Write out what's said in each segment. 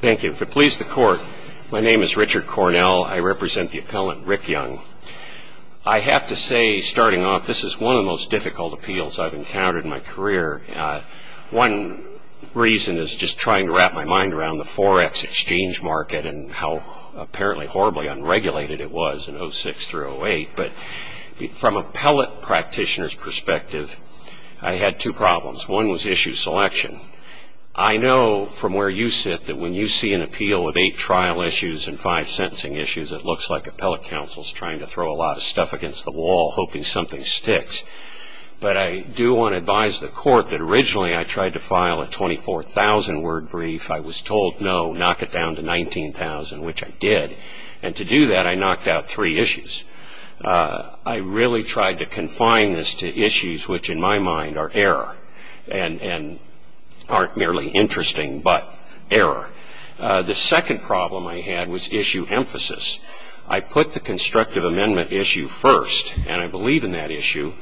Thank you. If it pleases the court, my name is Richard Cornell. I represent the appellant Rick Young. I have to say, starting off, this is one of the most difficult appeals I've encountered in my career. One reason is just trying to wrap my mind around the forex exchange market and how apparently horribly unregulated it was in 06 through 08. But from an appellate practitioner's perspective, I had two problems. One was issue selection. I know from where you sit that when you see an appeal with eight trial issues and five sentencing issues, it looks like appellate counsel is trying to throw a lot of stuff against the wall, hoping something sticks. But I do want to advise the court that originally I tried to file a 24,000-word brief. I was told, no, knock it down to 19,000, which I did. And to do that, I knocked out three issues. I really tried to confine this to issues which, in my mind, are error and aren't merely interesting but error. The second problem I had was issue emphasis. I put the constructive amendment issue first, and I believe in that issue.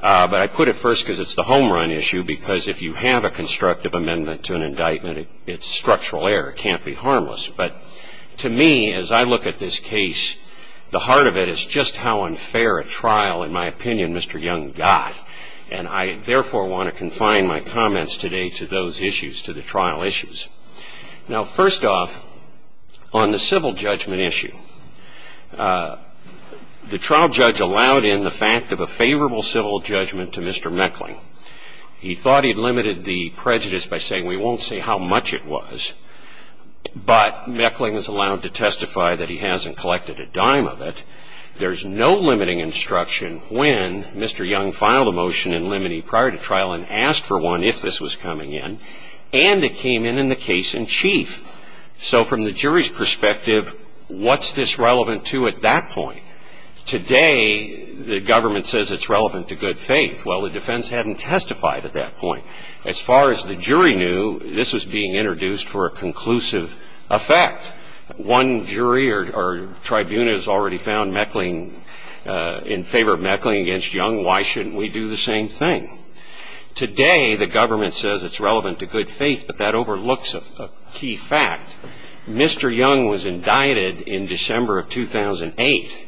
But I put it first because it's the homerun issue, because if you have a constructive amendment to an indictment, it's structural error. It can't be harmless. But to me, as I look at this case, the heart of it is just how unfair a trial, in my opinion, Mr. Young got. And I, therefore, want to confine my comments today to those issues, to the trial issues. Now, first off, on the civil judgment issue, the trial judge allowed in the fact of a favorable civil judgment to Mr. Meckling. He thought he'd limited the prejudice by saying, we won't say how much it was. But Meckling is allowed to testify that he hasn't collected a dime of it. There's no limiting instruction when Mr. Young filed a motion in limine prior to trial and asked for one if this was coming in. And it came in in the case in chief. So from the jury's perspective, what's this relevant to at that point? Today, the government says it's relevant to good faith. Well, the defense hadn't testified at that point. As far as the jury knew, this was being introduced for a conclusive effect. One jury or tribune has already found Meckling in favor of Meckling against Young. Why shouldn't we do the same thing? Today, the government says it's relevant to good faith, but that overlooks a key fact. Mr. Young was indicted in December of 2008.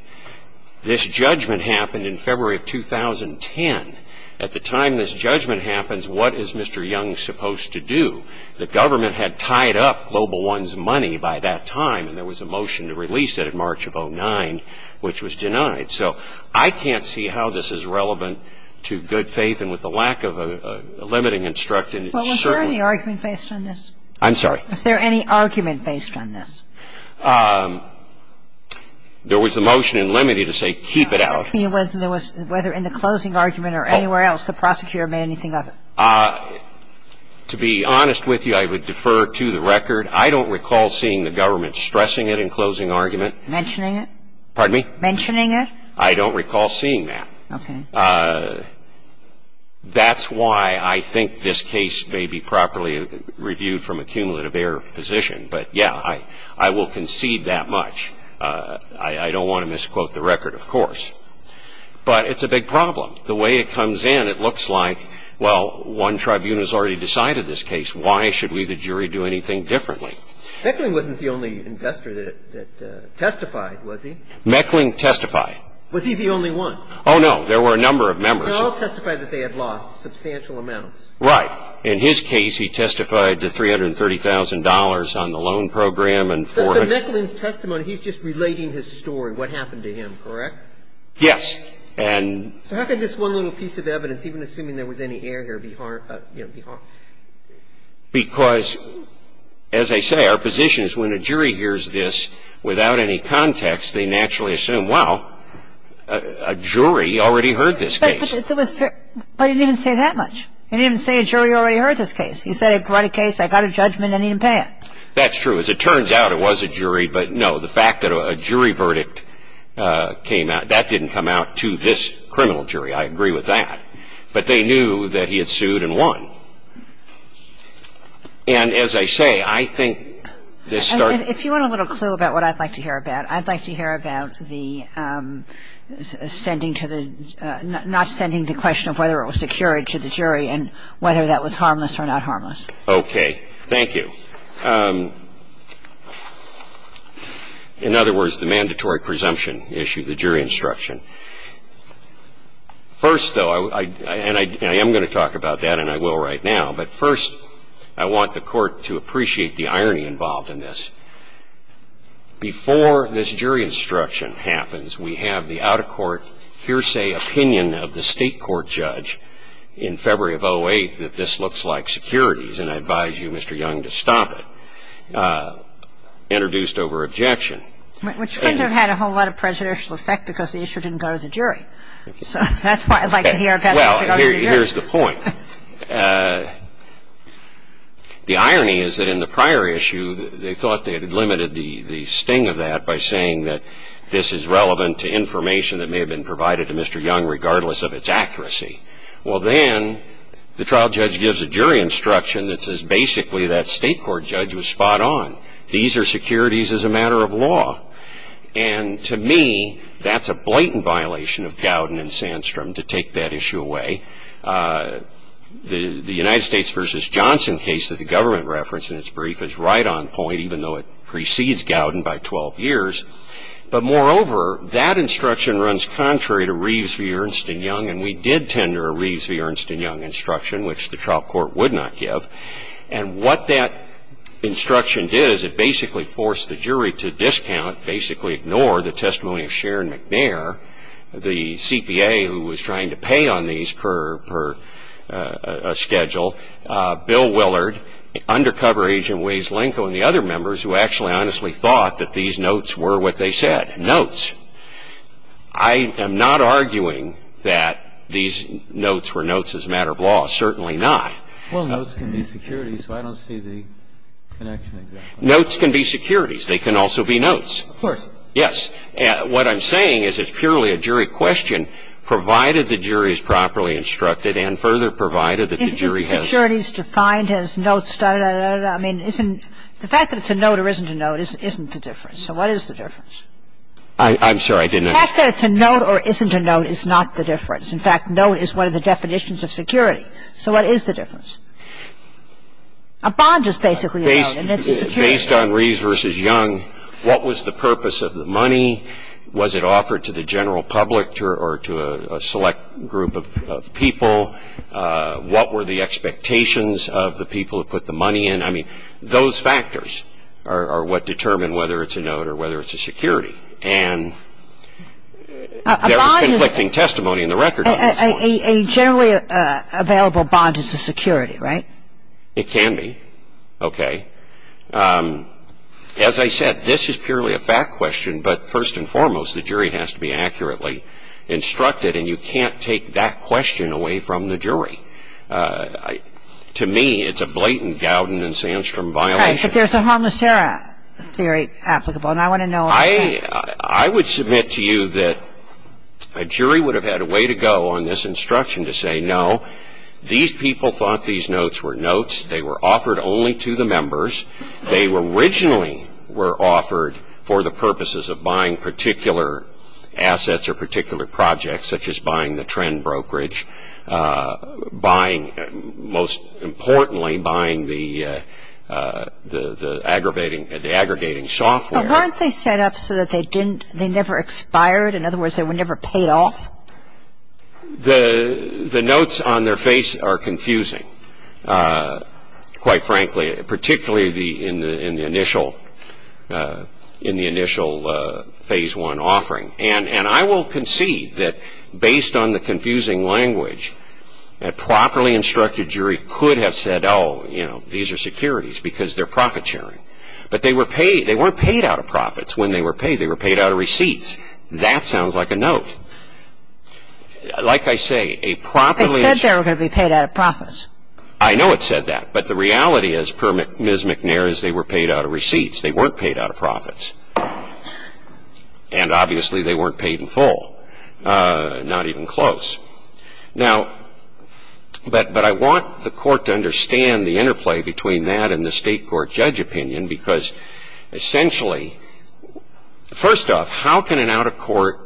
This judgment happened in February of 2010. At the time this judgment happens, what is Mr. Young supposed to do? The government had tied up Global One's money by that time, and there was a motion to release it in March of 2009, which was denied. So I can't see how this is relevant to good faith. And with the lack of a limiting instruction, it certainly was. But was there any argument based on this? I'm sorry? Was there any argument based on this? There was a motion in limine to say, keep it out. I don't recall seeing that. Okay. That's why I think this case may be properly reviewed from a cumulative error position. But, yeah, I will concede that much. I don't want to misquote the record, of course. Thank you. Thank you. Thank you. Thank you. Thank you. Thank you. Thank you. The question is, how can this one little piece of evidence, even assuming there was any error, be harmful? Because, as I say, our position is when a jury hears this without any context, they naturally assume, wow, a jury already heard this case. But it didn't even say that much. It didn't even say a jury already heard this case. It said it'd write a case, I got a judgment, and he didn't pay it. That's true. As it turns out, it was a jury, but no. The fact that a jury verdict came out, that didn't come out to this criminal jury. I agree with that. But they knew that he had sued and won. And, as I say, I think this started... If you want a little clue about what I'd like to hear about, I'd like to hear about the sending to the, not sending the question of whether it was secured to the jury and whether that was harmless or not harmless. Okay. Thank you. In other words, the mandatory presumption issue, the jury instruction. First, though, and I am going to talk about that, and I will right now, but first, I want the Court to appreciate the irony involved in this. Before this jury instruction happens, we have the out-of-court hearsay opinion of the State court judge in February of 2008 that this looks like securities, and I advise you, Mr. Young, to stop. Introduced over objection. Which couldn't have had a whole lot of prejudicial effect because the issue didn't go to the jury. So that's why I'd like to hear about it. Well, here's the point. The irony is that in the prior issue, they thought they had limited the sting of that by saying that this is relevant to information that may have been provided to Mr. Young regardless of its accuracy. Well, then the trial judge gives a jury instruction that says basically that State court judge was spot on. These are securities as a matter of law. And to me, that's a blatant violation of Gowden and Sandstrom to take that issue away. The United States versus Johnson case that the government referenced in its brief is right on point, even though it precedes Gowden by 12 years. But, moreover, that instruction runs contrary to Reeves v. Ernst and Young, and we did tender a Reeves v. Ernst and Young instruction, which the trial court would not give. And what that instruction did is it basically forced the jury to discount, basically ignore the testimony of Sharon McNair, the CPA who was trying to pay on these per schedule, Bill Willard, undercover agent Waze Lenko, and the other members who actually honestly thought that these notes were what they said, notes. I am not arguing that these notes were notes as a matter of law. Certainly not. Well, notes can be securities, so I don't see the connection exactly. Notes can be securities. They can also be notes. Of course. Yes. What I'm saying is it's purely a jury question, provided the jury is properly instructed and further provided that the jury has. If the security is defined as notes, I mean, isn't the fact that it's a note or isn't a note isn't the difference? So what is the difference? I'm sorry, I didn't understand. The fact that it's a note or isn't a note is not the difference. In fact, note is one of the definitions of security. So what is the difference? A bond is basically a note, and it's a security. Based on Reeves v. Young, what was the purpose of the money? Was it offered to the general public or to a select group of people? What were the expectations of the people who put the money in? I mean, those factors are what determine whether it's a note or whether it's a security. And there is conflicting testimony in the record on these points. A generally available bond is a security, right? It can be. Okay. As I said, this is purely a fact question, but first and foremost, the jury has to be accurately instructed, and you can't take that question away from the jury. To me, it's a blatant Gowden and Sandstrom violation. Right. But there's a harmless error theory applicable, and I want to know. I would submit to you that a jury would have had a way to go on this instruction to say, no, these people thought these notes were notes. They were offered only to the members. They originally were offered for the purposes of buying particular assets or particular projects, such as buying the trend brokerage, most importantly buying the aggregating software. But weren't they set up so that they never expired? In other words, they were never paid off? The notes on their face are confusing, quite frankly, particularly in the initial Phase I offering. And I will concede that based on the confusing language, a properly instructed jury could have said, oh, you know, these are securities because they're profit sharing. But they weren't paid out of profits when they were paid. They were paid out of receipts. That sounds like a note. Like I say, a properly ---- They said they were going to be paid out of profits. I know it said that, but the reality is, per Ms. McNair, is they were paid out of receipts. They weren't paid out of profits. And obviously, they weren't paid in full, not even close. Now, but I want the Court to understand the interplay between that and the State court judge opinion, because essentially, first off, how can an out-of-court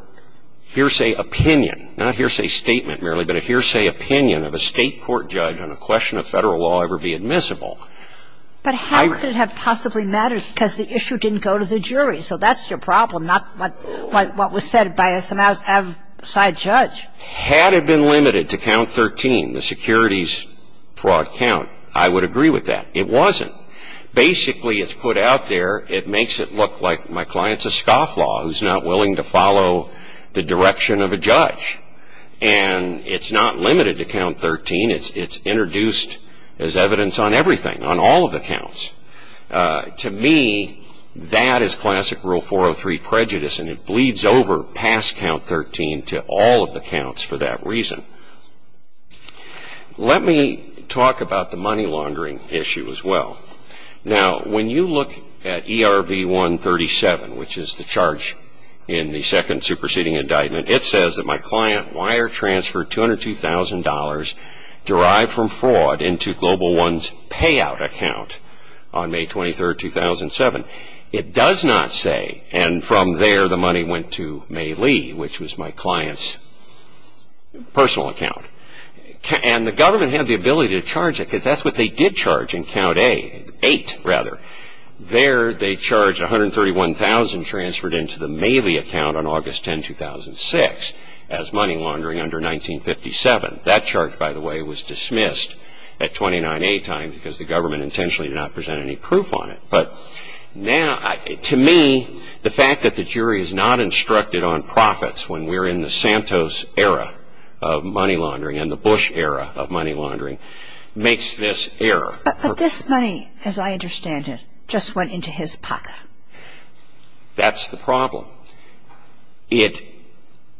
hearsay opinion, not a hearsay statement merely, but a hearsay opinion of a State court judge on a question of Federal law ever be admissible? But how could it have possibly mattered? Because the issue didn't go to the jury. So that's your problem, not what was said by some outside judge. Had it been limited to count 13, the securities fraud count, I would agree with that. It wasn't. Basically, it's put out there. It makes it look like my client's a scofflaw who's not willing to follow the direction of a judge. And it's not limited to count 13. It's introduced as evidence on everything, on all of the counts. To me, that is classic Rule 403 prejudice, and it bleeds over past count 13 to all of the counts for that reason. Let me talk about the money laundering issue as well. Now, when you look at ERV 137, which is the charge in the second superseding indictment, it says that my client wire-transferred $202,000 derived from fraud into Global One's payout account on May 23, 2007. It does not say, and from there the money went to May Lee, which was my client's personal account. And the government had the ability to charge it, because that's what they did charge in count 8. There they charged $131,000 transferred into the May Lee account on August 10, 2006 as money laundering under 1957. That charge, by the way, was dismissed at 29A time because the government intentionally did not present any proof on it. But now, to me, the fact that the jury is not instructed on profits when we're in the Santos era of money laundering and the Bush era of money laundering makes this error. But this money, as I understand it, just went into his pocket. That's the problem. It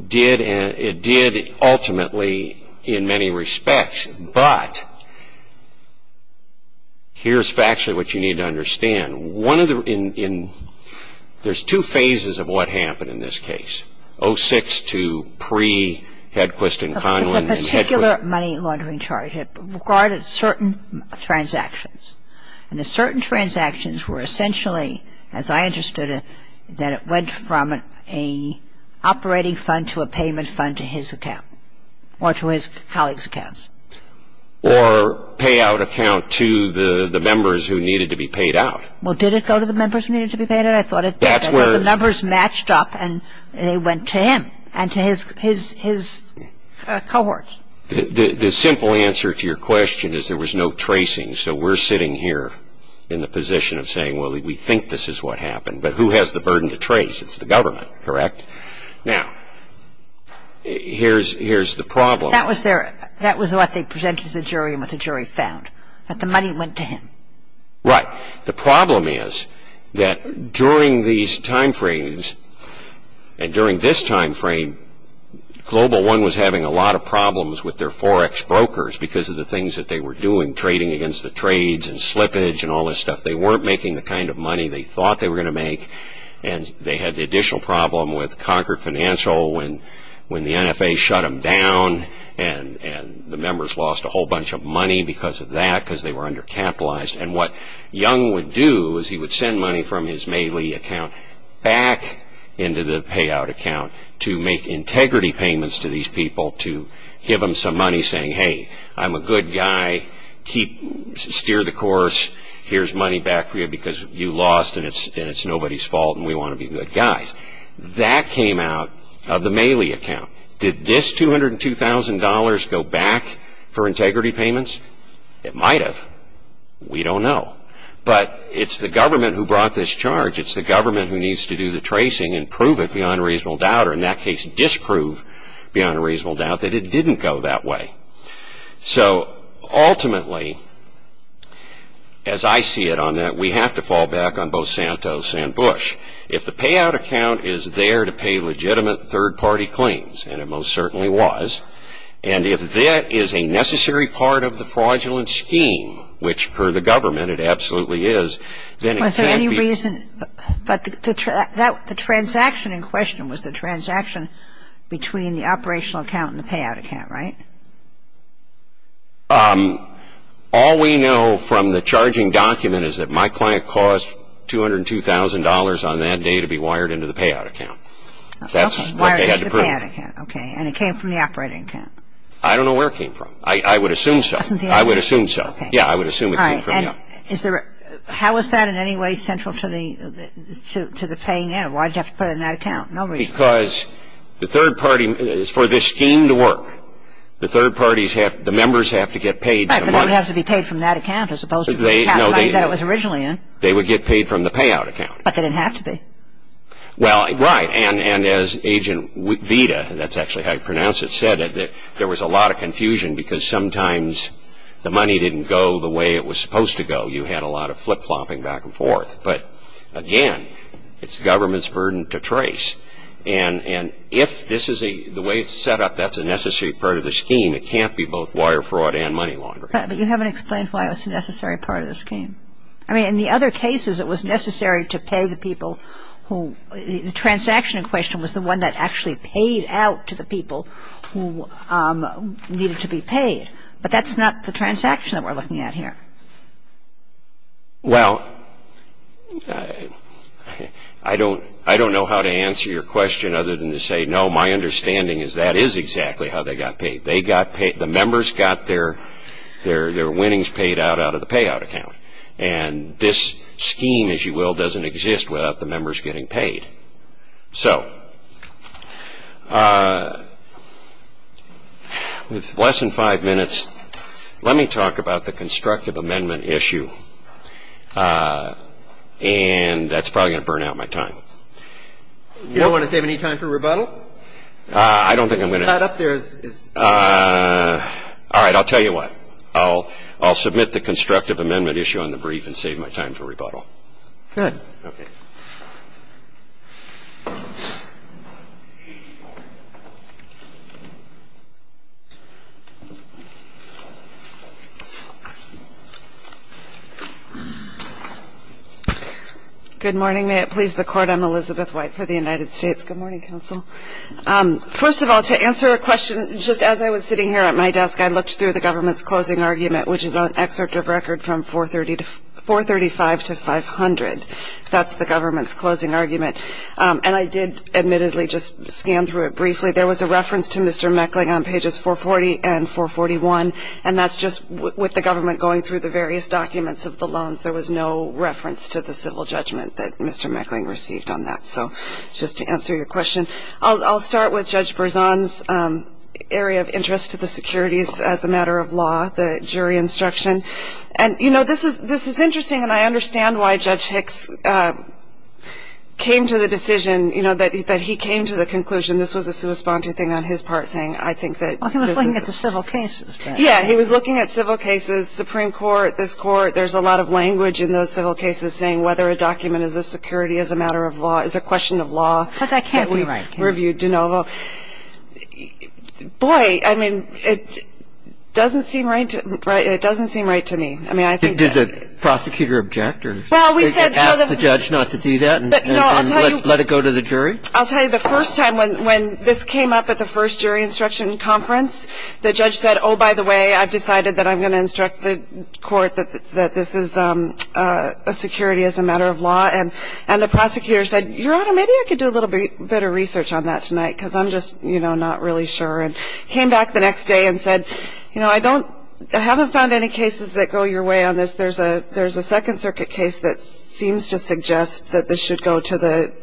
did ultimately in many respects, but here's factually what you need to understand. There's two phases of what happened in this case, 06 to pre-Hedquist and Conlin. There was a particular money laundering charge. It regarded certain transactions. And the certain transactions were essentially, as I understood it, that it went from an operating fund to a payment fund to his account or to his colleague's accounts. Or payout account to the members who needed to be paid out. Well, did it go to the members who needed to be paid out? The numbers matched up and they went to him and to his cohorts. The simple answer to your question is there was no tracing, so we're sitting here in the position of saying, well, we think this is what happened. But who has the burden to trace? It's the government, correct? Now, here's the problem. That was what they presented to the jury and what the jury found, that the money went to him. Right. The problem is that during these time frames and during this time frame, Global One was having a lot of problems with their Forex brokers because of the things that they were doing, trading against the trades and slippage and all this stuff. They weren't making the kind of money they thought they were going to make. And they had the additional problem with Concord Financial when the NFA shut them down and the members lost a whole bunch of money because of that, because they were undercapitalized. And what Young would do is he would send money from his Meili account back into the payout account to make integrity payments to these people to give them some money saying, hey, I'm a good guy, steer the course, here's money back for you because you lost and it's nobody's fault and we want to be good guys. That came out of the Meili account. Did this $202,000 go back for integrity payments? It might have. We don't know. But it's the government who brought this charge. It's the government who needs to do the tracing and prove it beyond a reasonable doubt or in that case disprove beyond a reasonable doubt that it didn't go that way. So ultimately, as I see it on that, we have to fall back on both Santos and Bush. If the payout account is there to pay legitimate third-party claims, and it most certainly was, and if that is a necessary part of the fraudulent scheme, which per the government it absolutely is, then it can't be. But the transaction in question was the transaction between the operational account and the payout account, right? All we know from the charging document is that my client caused $202,000 on that day to be wired into the payout account. That's what they had to prove. Okay, and it came from the operating account. I don't know where it came from. I would assume so. I would assume so. Yeah, I would assume it came from, yeah. How is that in any way central to the paying out? Why did you have to put it in that account? No reason. Because the third party, for this scheme to work, the members have to get paid some money. Right, but they would have to be paid from that account as opposed to the account money that it was originally in. They would get paid from the payout account. But they didn't have to be. Well, right, and as Agent Vita, that's actually how you pronounce it, said, there was a lot of confusion because sometimes the money didn't go the way it was supposed to go. You had a lot of flip-flopping back and forth. But, again, it's government's burden to trace. And if this is a, the way it's set up, that's a necessary part of the scheme. It can't be both wire fraud and money laundering. But you haven't explained why it was a necessary part of the scheme. I mean, in the other cases it was necessary to pay the people who, the transaction in question was the one that actually paid out to the people who needed to be paid. But that's not the transaction that we're looking at here. Well, I don't know how to answer your question other than to say, no, my understanding is that is exactly how they got paid. They got paid, the members got their winnings paid out out of the payout account. And this scheme, as you will, doesn't exist without the members getting paid. So, with less than five minutes, let me talk about the constructive amendment issue. And that's probably going to burn out my time. You don't want to save any time for rebuttal? I don't think I'm going to. All right, I'll tell you what. I'll submit the constructive amendment issue on the brief and save my time for rebuttal. Good. Okay. Good morning. May it please the Court, I'm Elizabeth White for the United States. Good morning, Counsel. First of all, to answer a question, just as I was sitting here at my desk, I looked through the government's closing argument, which is an excerpt of record from 435 to 500. That's the government's closing argument. And I did, admittedly, just scan through it briefly. There was a reference to Mr. Meckling on pages 440 and 441, and that's just with the government going through the various documents of the loans. There was no reference to the civil judgment that Mr. Meckling received on that. So, just to answer your question, I'll start with Judge Berzon's area of interest to the securities as a matter of law, the jury instruction. And, you know, this is interesting, and I understand why Judge Hicks came to the decision, you know, that he came to the conclusion, this was a sui sponte thing on his part, saying, I think that this is. Well, he was looking at the civil cases. Yeah, he was looking at civil cases, Supreme Court, this Court. There's a lot of language in those civil cases saying whether a document is a security as a matter of law, is a question of law. But that can't be right, can it? Boy, I mean, it doesn't seem right to me. I mean, I think that. Did the prosecutor object or ask the judge not to do that and let it go to the jury? I'll tell you, the first time when this came up at the first jury instruction conference, the judge said, oh, by the way, I've decided that I'm going to instruct the court that this is a security as a matter of law. And the prosecutor said, Your Honor, maybe I could do a little bit of research on that tonight, because I'm just, you know, not really sure. And he came back the next day and said, you know, I haven't found any cases that go your way on this. There's a Second Circuit case that seems to suggest that this should go to the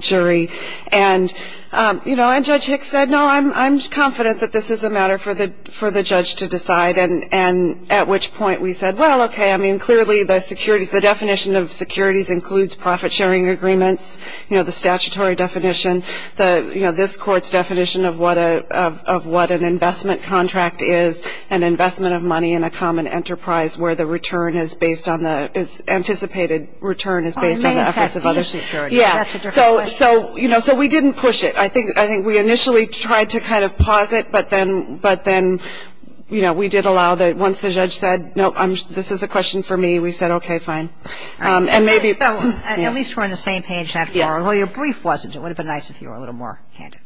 jury. And, you know, and Judge Hicks said, no, I'm confident that this is a matter for the judge to decide, and at which point we said, well, okay, I mean, clearly the securities, the definition of securities includes profit-sharing agreements, you know, the statutory definition. You know, this court's definition of what an investment contract is, an investment of money in a common enterprise where the return is based on the, is anticipated return is based on the efforts of other securities. So, you know, so we didn't push it. I think we initially tried to kind of pause it, but then, you know, we did allow that once the judge said, nope, this is a question for me, we said, okay, fine. And maybe. So at least we're on the same page after all. Well, your brief wasn't. It would have been nice if you were a little more candid.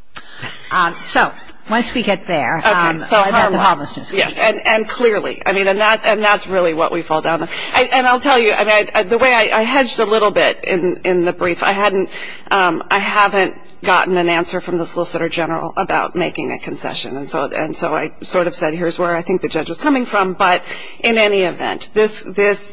So once we get there. Okay. So hard work. Yes, and clearly. I mean, and that's really what we fall down on. And I'll tell you, I mean, the way I hedged a little bit in the brief, I hadn't, I haven't gotten an answer from the solicitor general about making a concession. And so I sort of said, here's where I think the judge was coming from. But in any event, this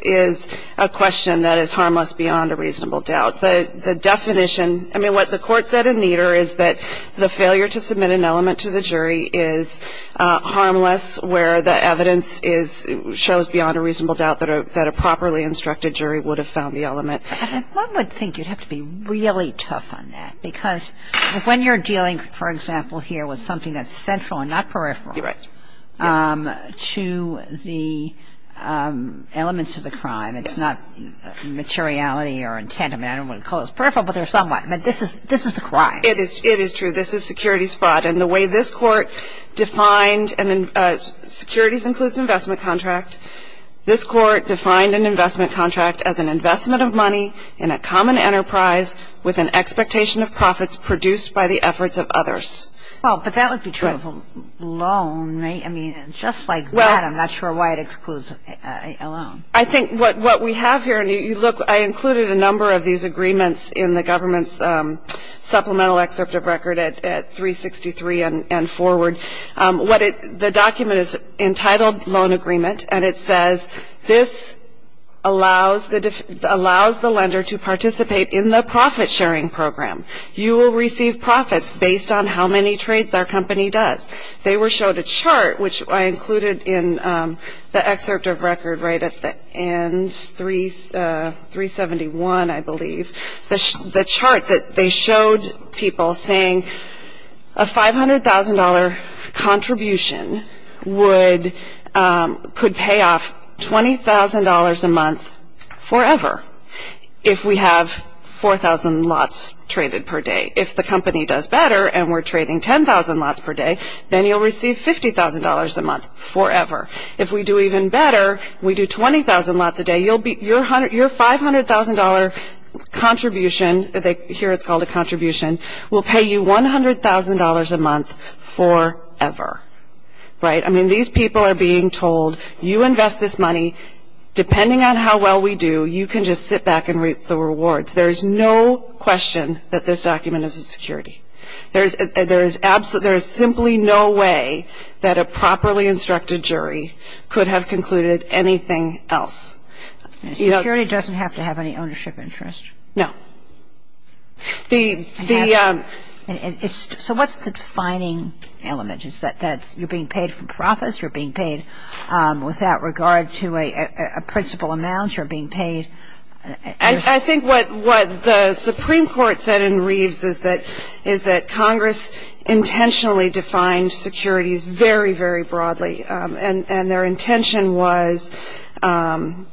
is a question that is harmless beyond a reasonable doubt. The definition, I mean, what the court said in Nieder is that the failure to submit an element to the jury is harmless, where the evidence is, shows beyond a reasonable doubt that a properly instructed jury would have found the element. One would think you'd have to be really tough on that. Because when you're dealing, for example, here with something that's central and not peripheral. You're right. To the elements of the crime. It's not materiality or intent. I mean, I don't want to call this peripheral, but there's somewhat. But this is the crime. It is true. This is securities fraud. And the way this Court defined securities includes investment contract. This Court defined an investment contract as an investment of money in a common enterprise with an expectation of profits produced by the efforts of others. Well, but that would be true of a loan. I mean, just like that, I'm not sure why it excludes a loan. I think what we have here, and you look, I included a number of these agreements in the government's supplemental excerpt of record at 363 and forward. The document is entitled Loan Agreement, and it says, this allows the lender to participate in the profit-sharing program. You will receive profits based on how many trades our company does. They showed a chart, which I included in the excerpt of record right at the end, 371, I believe. The chart that they showed people saying a $500,000 contribution could pay off $20,000 a month forever if we have 4,000 lots traded per day. If the company does better and we're trading 10,000 lots per day, then you'll receive $50,000 a month forever. If we do even better, we do 20,000 lots a day, your $500,000 contribution, here it's called a contribution, will pay you $100,000 a month forever. Right? I mean, these people are being told, you invest this money, depending on how well we do, you can just sit back and reap the rewards. There is no question that this document is a security. There is simply no way that a properly instructed jury could have concluded anything else. Security doesn't have to have any ownership interest. No. So what's the defining element? Is that you're being paid for profits, you're being paid without regard to a principal amount, you're being paid? I think what the Supreme Court said in Reeves is that Congress intentionally defined securities very, very broadly. And their intention was to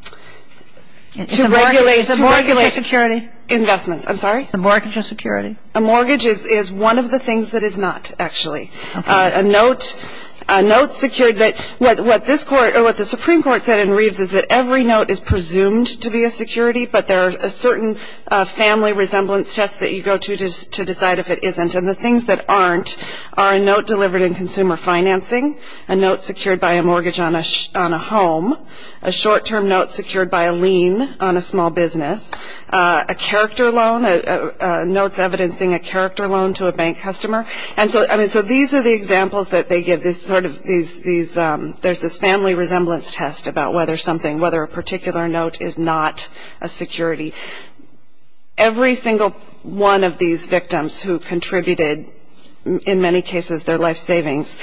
regulate investments. A mortgage is security? A mortgage is one of the things that is not, actually. A note secured, what the Supreme Court said in Reeves is that every note is presumed to be a security, but there are certain family resemblance tests that you go to to decide if it isn't. And the things that aren't are a note delivered in consumer financing, a note secured by a mortgage on a home, a short-term note secured by a lien on a small business, a character loan, notes evidencing a character loan to a bank customer. And so these are the examples that they give. There's this family resemblance test about whether something, whether a particular note is not a security. Every single one of these victims who contributed, in many cases their life savings,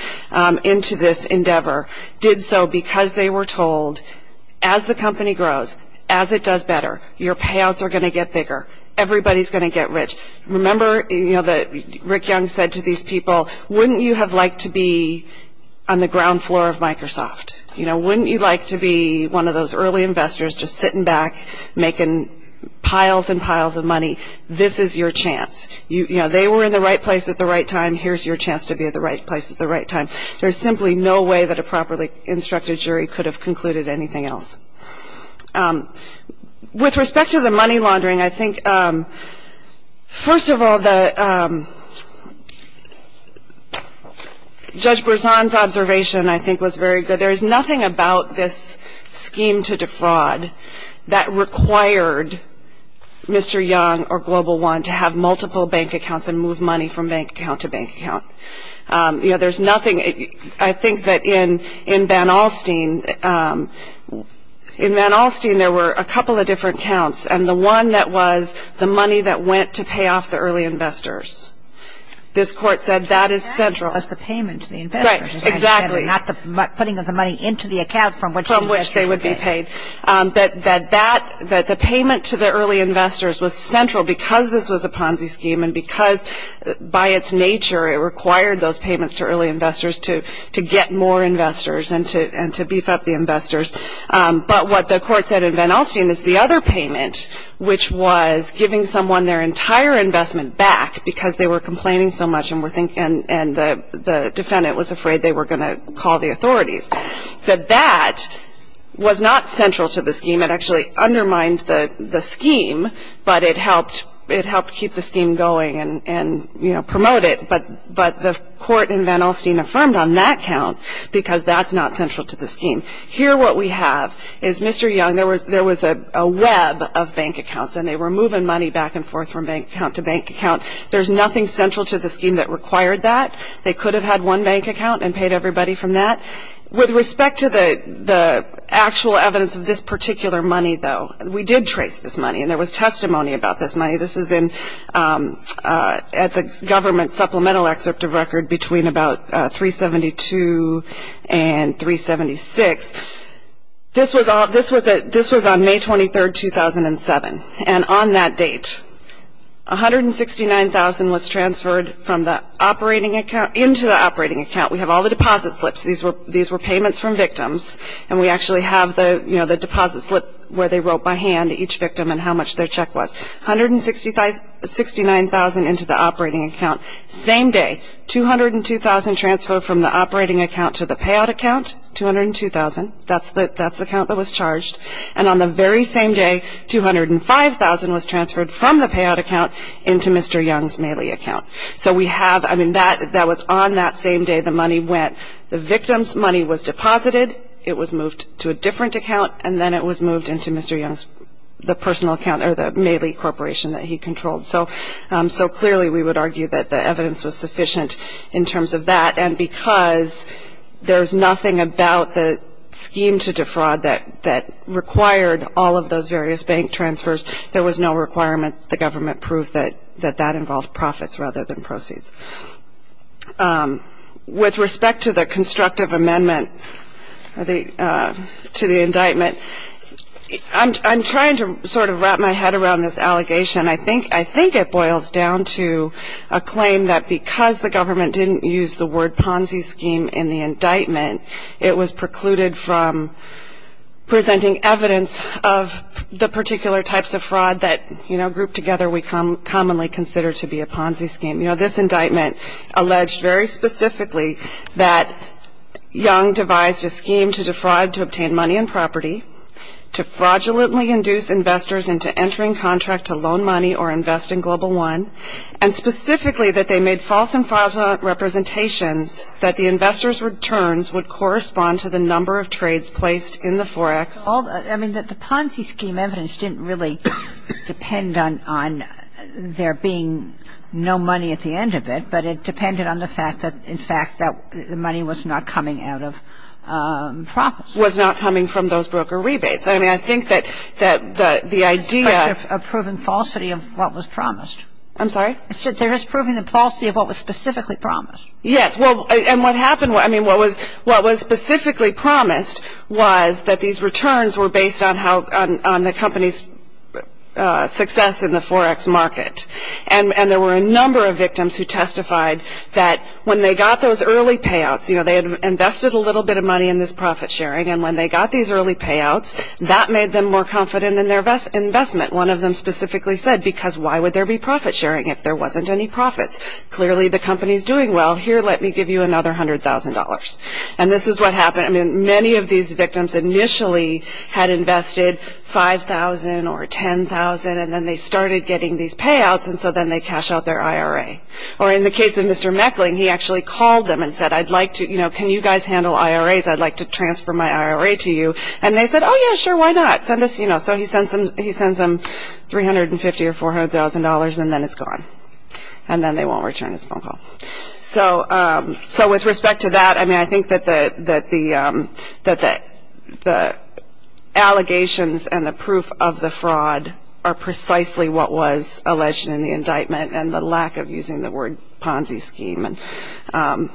into this endeavor did so because they were told as the company grows, as it does better, your payouts are going to get bigger, everybody's going to get rich. Remember, you know, that Rick Young said to these people, wouldn't you have liked to be on the ground floor of Microsoft? You know, wouldn't you like to be one of those early investors just sitting back making piles and piles of money? This is your chance. You know, they were in the right place at the right time. Here's your chance to be at the right place at the right time. There's simply no way that a properly instructed jury could have concluded anything else. With respect to the money laundering, I think, first of all, Judge Berzon's observation, I think, was very good. There is nothing about this scheme to defraud that required Mr. Young or Global One to have multiple bank accounts and move money from bank account to bank account. You know, there's nothing. I think that in Van Alstyne, in Van Alstyne, there were a couple of different accounts, and the one that was the money that went to pay off the early investors. This Court said that is central. That was the payment to the investors. Right, exactly. Not the putting of the money into the account from which they would be paid. From which they would be paid. That the payment to the early investors was central because this was a Ponzi scheme and because by its nature it required those payments to early investors to get more investors and to beef up the investors. But what the Court said in Van Alstyne is the other payment, which was giving someone their entire investment back because they were complaining so much and the defendant was afraid they were going to call the authorities. That that was not central to the scheme. It actually undermined the scheme, but it helped keep the scheme going and, you know, promote it. But the Court in Van Alstyne affirmed on that count because that's not central to the scheme. Here what we have is Mr. Young, there was a web of bank accounts and they were moving money back and forth from bank account to bank account. There's nothing central to the scheme that required that. They could have had one bank account and paid everybody from that. With respect to the actual evidence of this particular money, though, we did trace this money and there was testimony about this money. This is at the government supplemental excerpt of record between about 372 and 376. This was on May 23, 2007. And on that date, $169,000 was transferred into the operating account. We have all the deposit slips. These were payments from victims. And we actually have the deposit slip where they wrote by hand each victim and how much their check was. $169,000 into the operating account. Same day, $202,000 transferred from the operating account to the payout account, $202,000. That's the count that was charged. And on the very same day, $205,000 was transferred from the payout account into Mr. Young's Mailey account. So we have, I mean, that was on that same day the money went. The victim's money was deposited, it was moved to a different account, and then it was moved into Mr. Young's personal account or the Mailey Corporation that he controlled. So clearly we would argue that the evidence was sufficient in terms of that. And because there's nothing about the scheme to defraud that required all of those various bank transfers, there was no requirement that the government prove that that involved profits rather than proceeds. With respect to the constructive amendment to the indictment, I'm trying to sort of wrap my head around this allegation. I think it boils down to a claim that because the government didn't use the word Ponzi scheme in the indictment, it was precluded from presenting evidence of the particular types of fraud that, you know, grouped together we commonly consider to be a Ponzi scheme. You know, this indictment alleged very specifically that Young devised a scheme to defraud to obtain money and property, to fraudulently induce investors into entering contract to loan money or invest in Global One, and specifically that they made false and fraudulent representations that the investors' returns would correspond to the number of trades placed in the forex. I mean, the Ponzi scheme evidence didn't really depend on there being no money at the end of it, but it depended on the fact that, in fact, the money was not coming out of profits. Was not coming from those broker rebates. I mean, I think that the idea of A proven falsity of what was promised. I'm sorry? I said there is proven falsity of what was specifically promised. Yes. And what happened, I mean, what was specifically promised was that these returns were based on the company's success in the forex market. And there were a number of victims who testified that when they got those early payouts, you know, they had invested a little bit of money in this profit sharing, and when they got these early payouts, that made them more confident in their investment. One of them specifically said, because why would there be profit sharing if there wasn't any profits? Clearly the company's doing well. Here, let me give you another $100,000. And this is what happened. I mean, many of these victims initially had invested $5,000 or $10,000, and then they started getting these payouts, and so then they cashed out their IRA. Or in the case of Mr. Meckling, he actually called them and said, I'd like to, you know, can you guys handle IRAs? I'd like to transfer my IRA to you. And they said, oh, yeah, sure, why not? So he sends them $350,000 or $400,000, and then it's gone. And then they won't return his phone call. So with respect to that, I mean, I think that the allegations and the proof of the fraud are precisely what was alleged in the indictment and the lack of using the word Ponzi scheme. There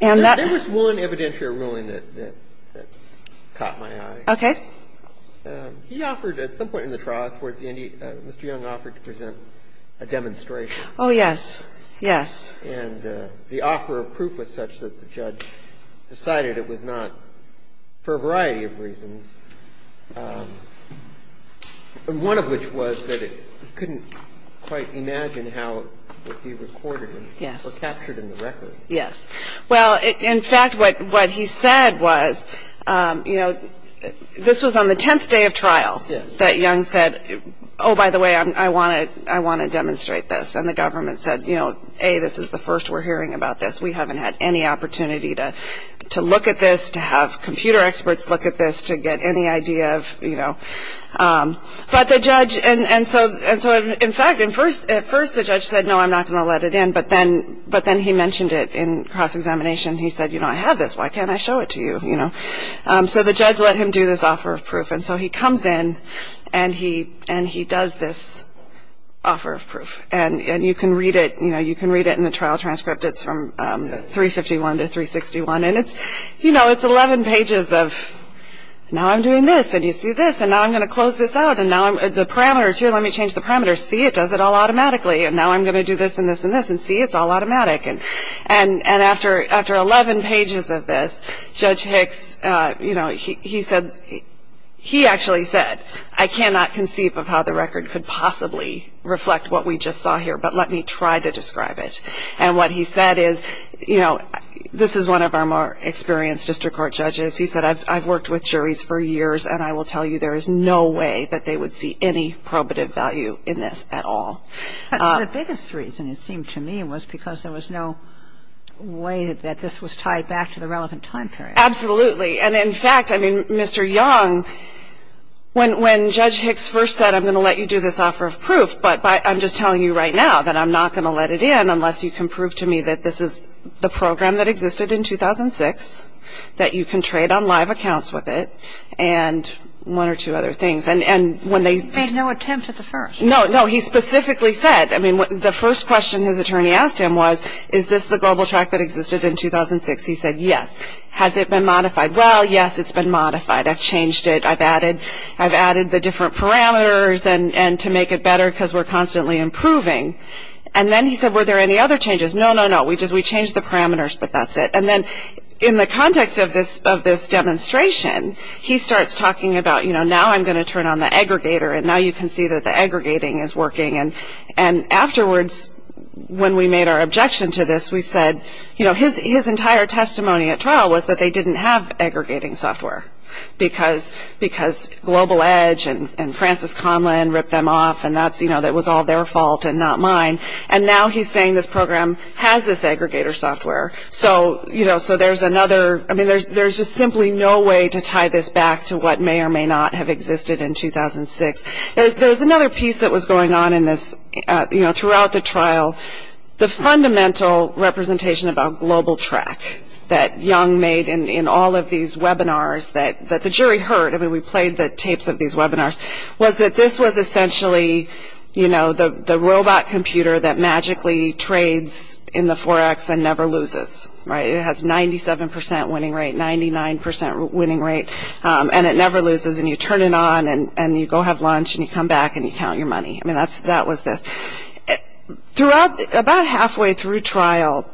was one evidentiary ruling that caught my eye. Okay. He offered at some point in the trial, Mr. Young offered to present a demonstration. Oh, yes. Yes. And the offer of proof was such that the judge decided it was not for a variety of reasons, one of which was that he couldn't quite imagine how it would be recorded or captured in the record. Yes. Well, in fact, what he said was, you know, this was on the 10th day of trial that Young said, oh, by the way, I want to demonstrate this. And the government said, you know, A, this is the first we're hearing about this. We haven't had any opportunity to look at this, to have computer experts look at this, to get any idea of, you know. But the judge, and so in fact, at first the judge said, no, I'm not going to let it in. But then he mentioned it in cross-examination. He said, you know, I have this. Why can't I show it to you, you know. So the judge let him do this offer of proof. And so he comes in, and he does this offer of proof. And you can read it, you know, you can read it in the trial transcript. It's from 351 to 361. And it's, you know, it's 11 pages of now I'm doing this, and you see this, and now I'm going to close this out, and now the parameters. Here, let me change the parameters. C, it does it all automatically. And now I'm going to do this, and this, and this, and C, it's all automatic. And after 11 pages of this, Judge Hicks, you know, he said, he actually said, I cannot conceive of how the record could possibly reflect what we just saw here, but let me try to describe it. And what he said is, you know, this is one of our more experienced district court judges. He said, I've worked with juries for years, and I will tell you there is no way that they would see any probative value in this at all. But the biggest reason, it seemed to me, was because there was no way that this was tied back to the relevant time period. Absolutely. And, in fact, I mean, Mr. Young, when Judge Hicks first said, I'm going to let you do this offer of proof, but I'm just telling you right now that I'm not going to let it in unless you can prove to me that this is the program that existed in 2006, that you can trade on live accounts with it, and one or two other things. He made no attempt at the first. No, no. He specifically said, I mean, the first question his attorney asked him was, is this the global track that existed in 2006? He said, yes. Has it been modified? Well, yes, it's been modified. I've changed it. I've added the different parameters to make it better because we're constantly improving. And then he said, were there any other changes? No, no, no. We changed the parameters, but that's it. And then in the context of this demonstration, he starts talking about, you know, now I'm going to turn on the aggregator, and now you can see that the aggregating is working. And afterwards, when we made our objection to this, we said, you know, his entire testimony at trial was that they didn't have aggregating software because Global Edge and Francis Conlin ripped them off, and that was all their fault and not mine. And now he's saying this program has this aggregator software. So, you know, so there's another, I mean, there's just simply no way to tie this back to what may or may not have existed in 2006. There's another piece that was going on in this, you know, throughout the trial. The fundamental representation about global track that Young made in all of these webinars that the jury heard, I mean, we played the tapes of these webinars, was that this was essentially, you know, the robot computer that magically trades in the 4X and never loses, right? It has 97% winning rate, 99% winning rate, and it never loses. And you turn it on, and you go have lunch, and you come back, and you count your money. I mean, that was this. Throughout, about halfway through trial,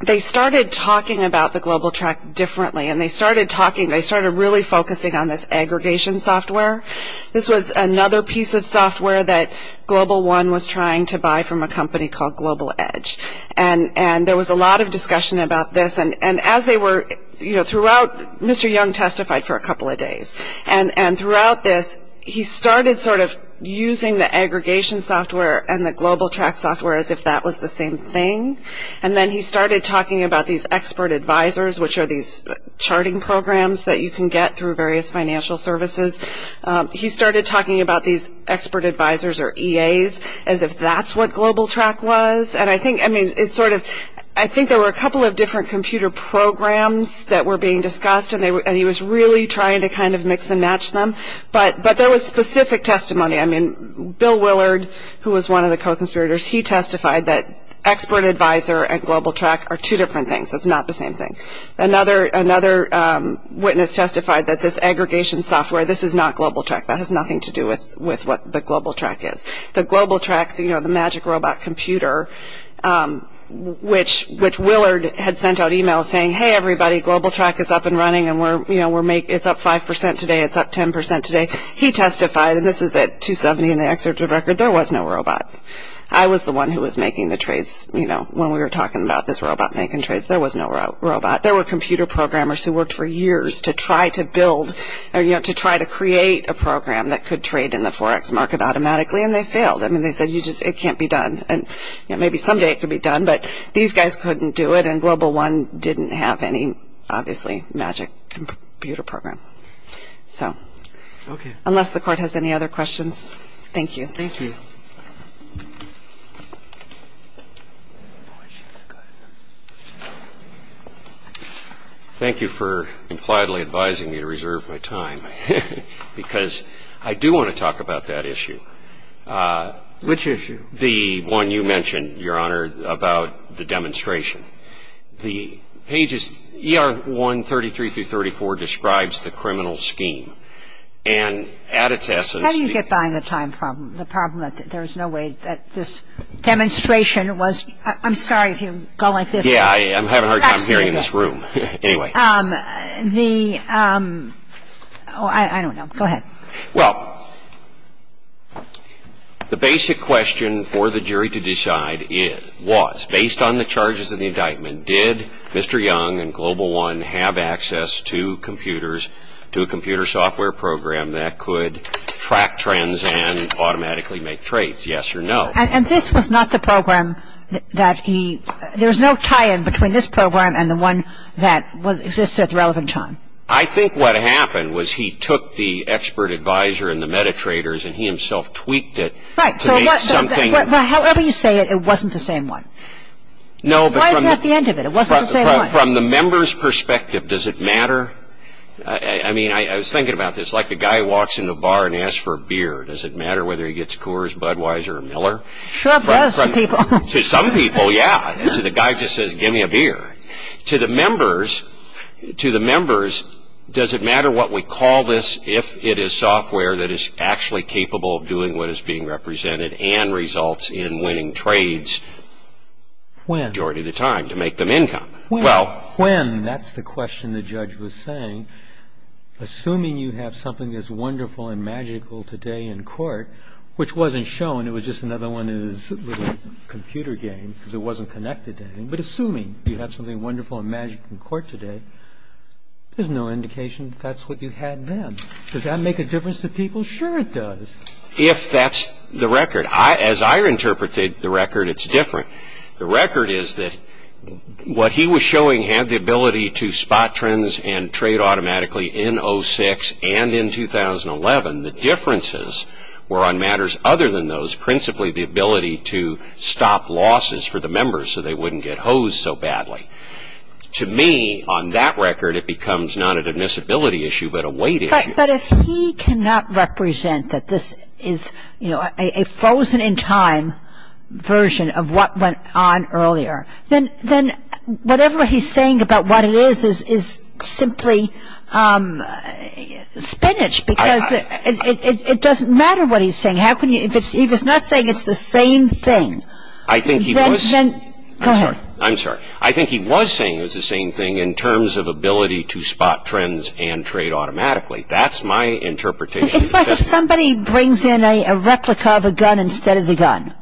they started talking about the global track differently, and they started talking, they started really focusing on this aggregation software. This was another piece of software that Global One was trying to buy from a company called Global Edge. And there was a lot of discussion about this. And as they were, you know, throughout, Mr. Young testified for a couple of days. And throughout this, he started sort of using the aggregation software and the global track software as if that was the same thing. And then he started talking about these expert advisors, which are these charting programs that you can get through various financial services. He started talking about these expert advisors or EAs as if that's what Global Track was. And I think, I mean, it's sort of, I think there were a couple of different computer programs that were being discussed, and he was really trying to kind of mix and match them. But there was specific testimony. I mean, Bill Willard, who was one of the co-conspirators, he testified that expert advisor and Global Track are two different things. That's not the same thing. Another witness testified that this aggregation software, this is not Global Track. That has nothing to do with what the Global Track is. The Global Track, you know, the magic robot computer, which Willard had sent out e-mails saying, hey, everybody, Global Track is up and running, and we're, you know, it's up 5% today, it's up 10% today. He testified, and this is at 270 in the excerpt of the record, there was no robot. I was the one who was making the trades, you know, when we were talking about this robot making trades. There was no robot. There were computer programmers who worked for years to try to build or, you know, to try to create a program that could trade in the Forex market automatically, and they failed. I mean, they said, you just, it can't be done. And, you know, maybe someday it could be done, but these guys couldn't do it, and Global One didn't have any, obviously, magic computer program. So. Okay. Unless the court has any other questions. Thank you. Thank you. Thank you for impliedly advising me to reserve my time, because I do want to talk about that issue. Which issue? The one you mentioned, Your Honor, about the demonstration. The pages, ER 133-34 describes the criminal scheme, and at its essence. How do you get by on the time problem, the problem that there's no way that this demonstration was. I'm sorry if you go like this. Yeah, I'm having a hard time hearing in this room. Anyway. The, oh, I don't know. Go ahead. Well, the basic question for the jury to decide was, based on the charges of the indictment, did Mr. Young and Global One have access to computers, to a computer software program that could track trends and automatically make trades, yes or no? And this was not the program that he, there was no tie-in between this program and the one that existed at the relevant time. I think what happened was he took the expert advisor and the metatraders, and he himself tweaked it to make something. Right. However you say it, it wasn't the same one. No. Why is that the end of it? It wasn't the same one. From the member's perspective, does it matter? I mean, I was thinking about this. It's like the guy walks into a bar and asks for a beer. Does it matter whether he gets Coors, Budweiser, or Miller? Sure. To some people. To some people, yeah. To the guy who just says, give me a beer. To the members, does it matter what we call this if it is software that is actually capable of doing what is being represented and results in winning trades majority of the time to make them income? Well, when, that's the question the judge was saying, assuming you have something that's wonderful and magical today in court, which wasn't shown, it was just another one of his little computer games, because it wasn't connected to anything, but assuming you have something wonderful and magical in court today, there's no indication that that's what you had then. Does that make a difference to people? Sure it does. If that's the record. As I interpret the record, it's different. The record is that what he was showing had the ability to spot trends and trade automatically in 06 and in 2011. The differences were on matters other than those, principally the ability to stop losses for the members so they wouldn't get hosed so badly. To me, on that record, it becomes not an admissibility issue but a weight issue. But if he cannot represent that this is a frozen in time version of what went on earlier, then whatever he's saying about what it is is simply spinach, because it doesn't matter what he's saying. He was not saying it's the same thing. I think he was. Go ahead. I'm sorry. I think he was saying it was the same thing in terms of ability to spot trends and trade automatically. That's my interpretation. It's like if somebody brings in a replica of a gun instead of the gun,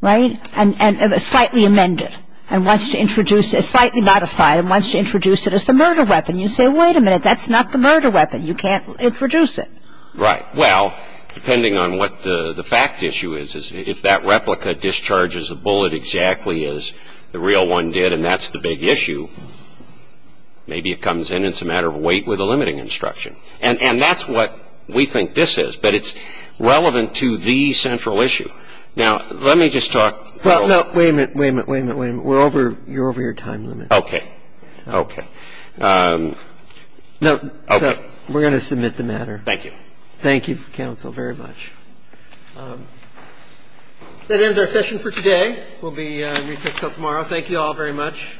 right, and slightly amend it and wants to introduce it, slightly modify it and wants to introduce it as the murder weapon. You say, wait a minute, that's not the murder weapon. You can't introduce it. Right. Well, depending on what the fact issue is, if that replica discharges a bullet exactly as the real one did and that's the big issue, maybe it comes in and it's a matter of wait with a limiting instruction. And that's what we think this is, but it's relevant to the central issue. Now, let me just talk. Wait a minute, wait a minute, wait a minute, wait a minute. You're over your time limit. Okay. Okay. So we're going to submit the matter. Thank you. Thank you, counsel, very much. That ends our session for today. We'll be in recess until tomorrow. Thank you all very much.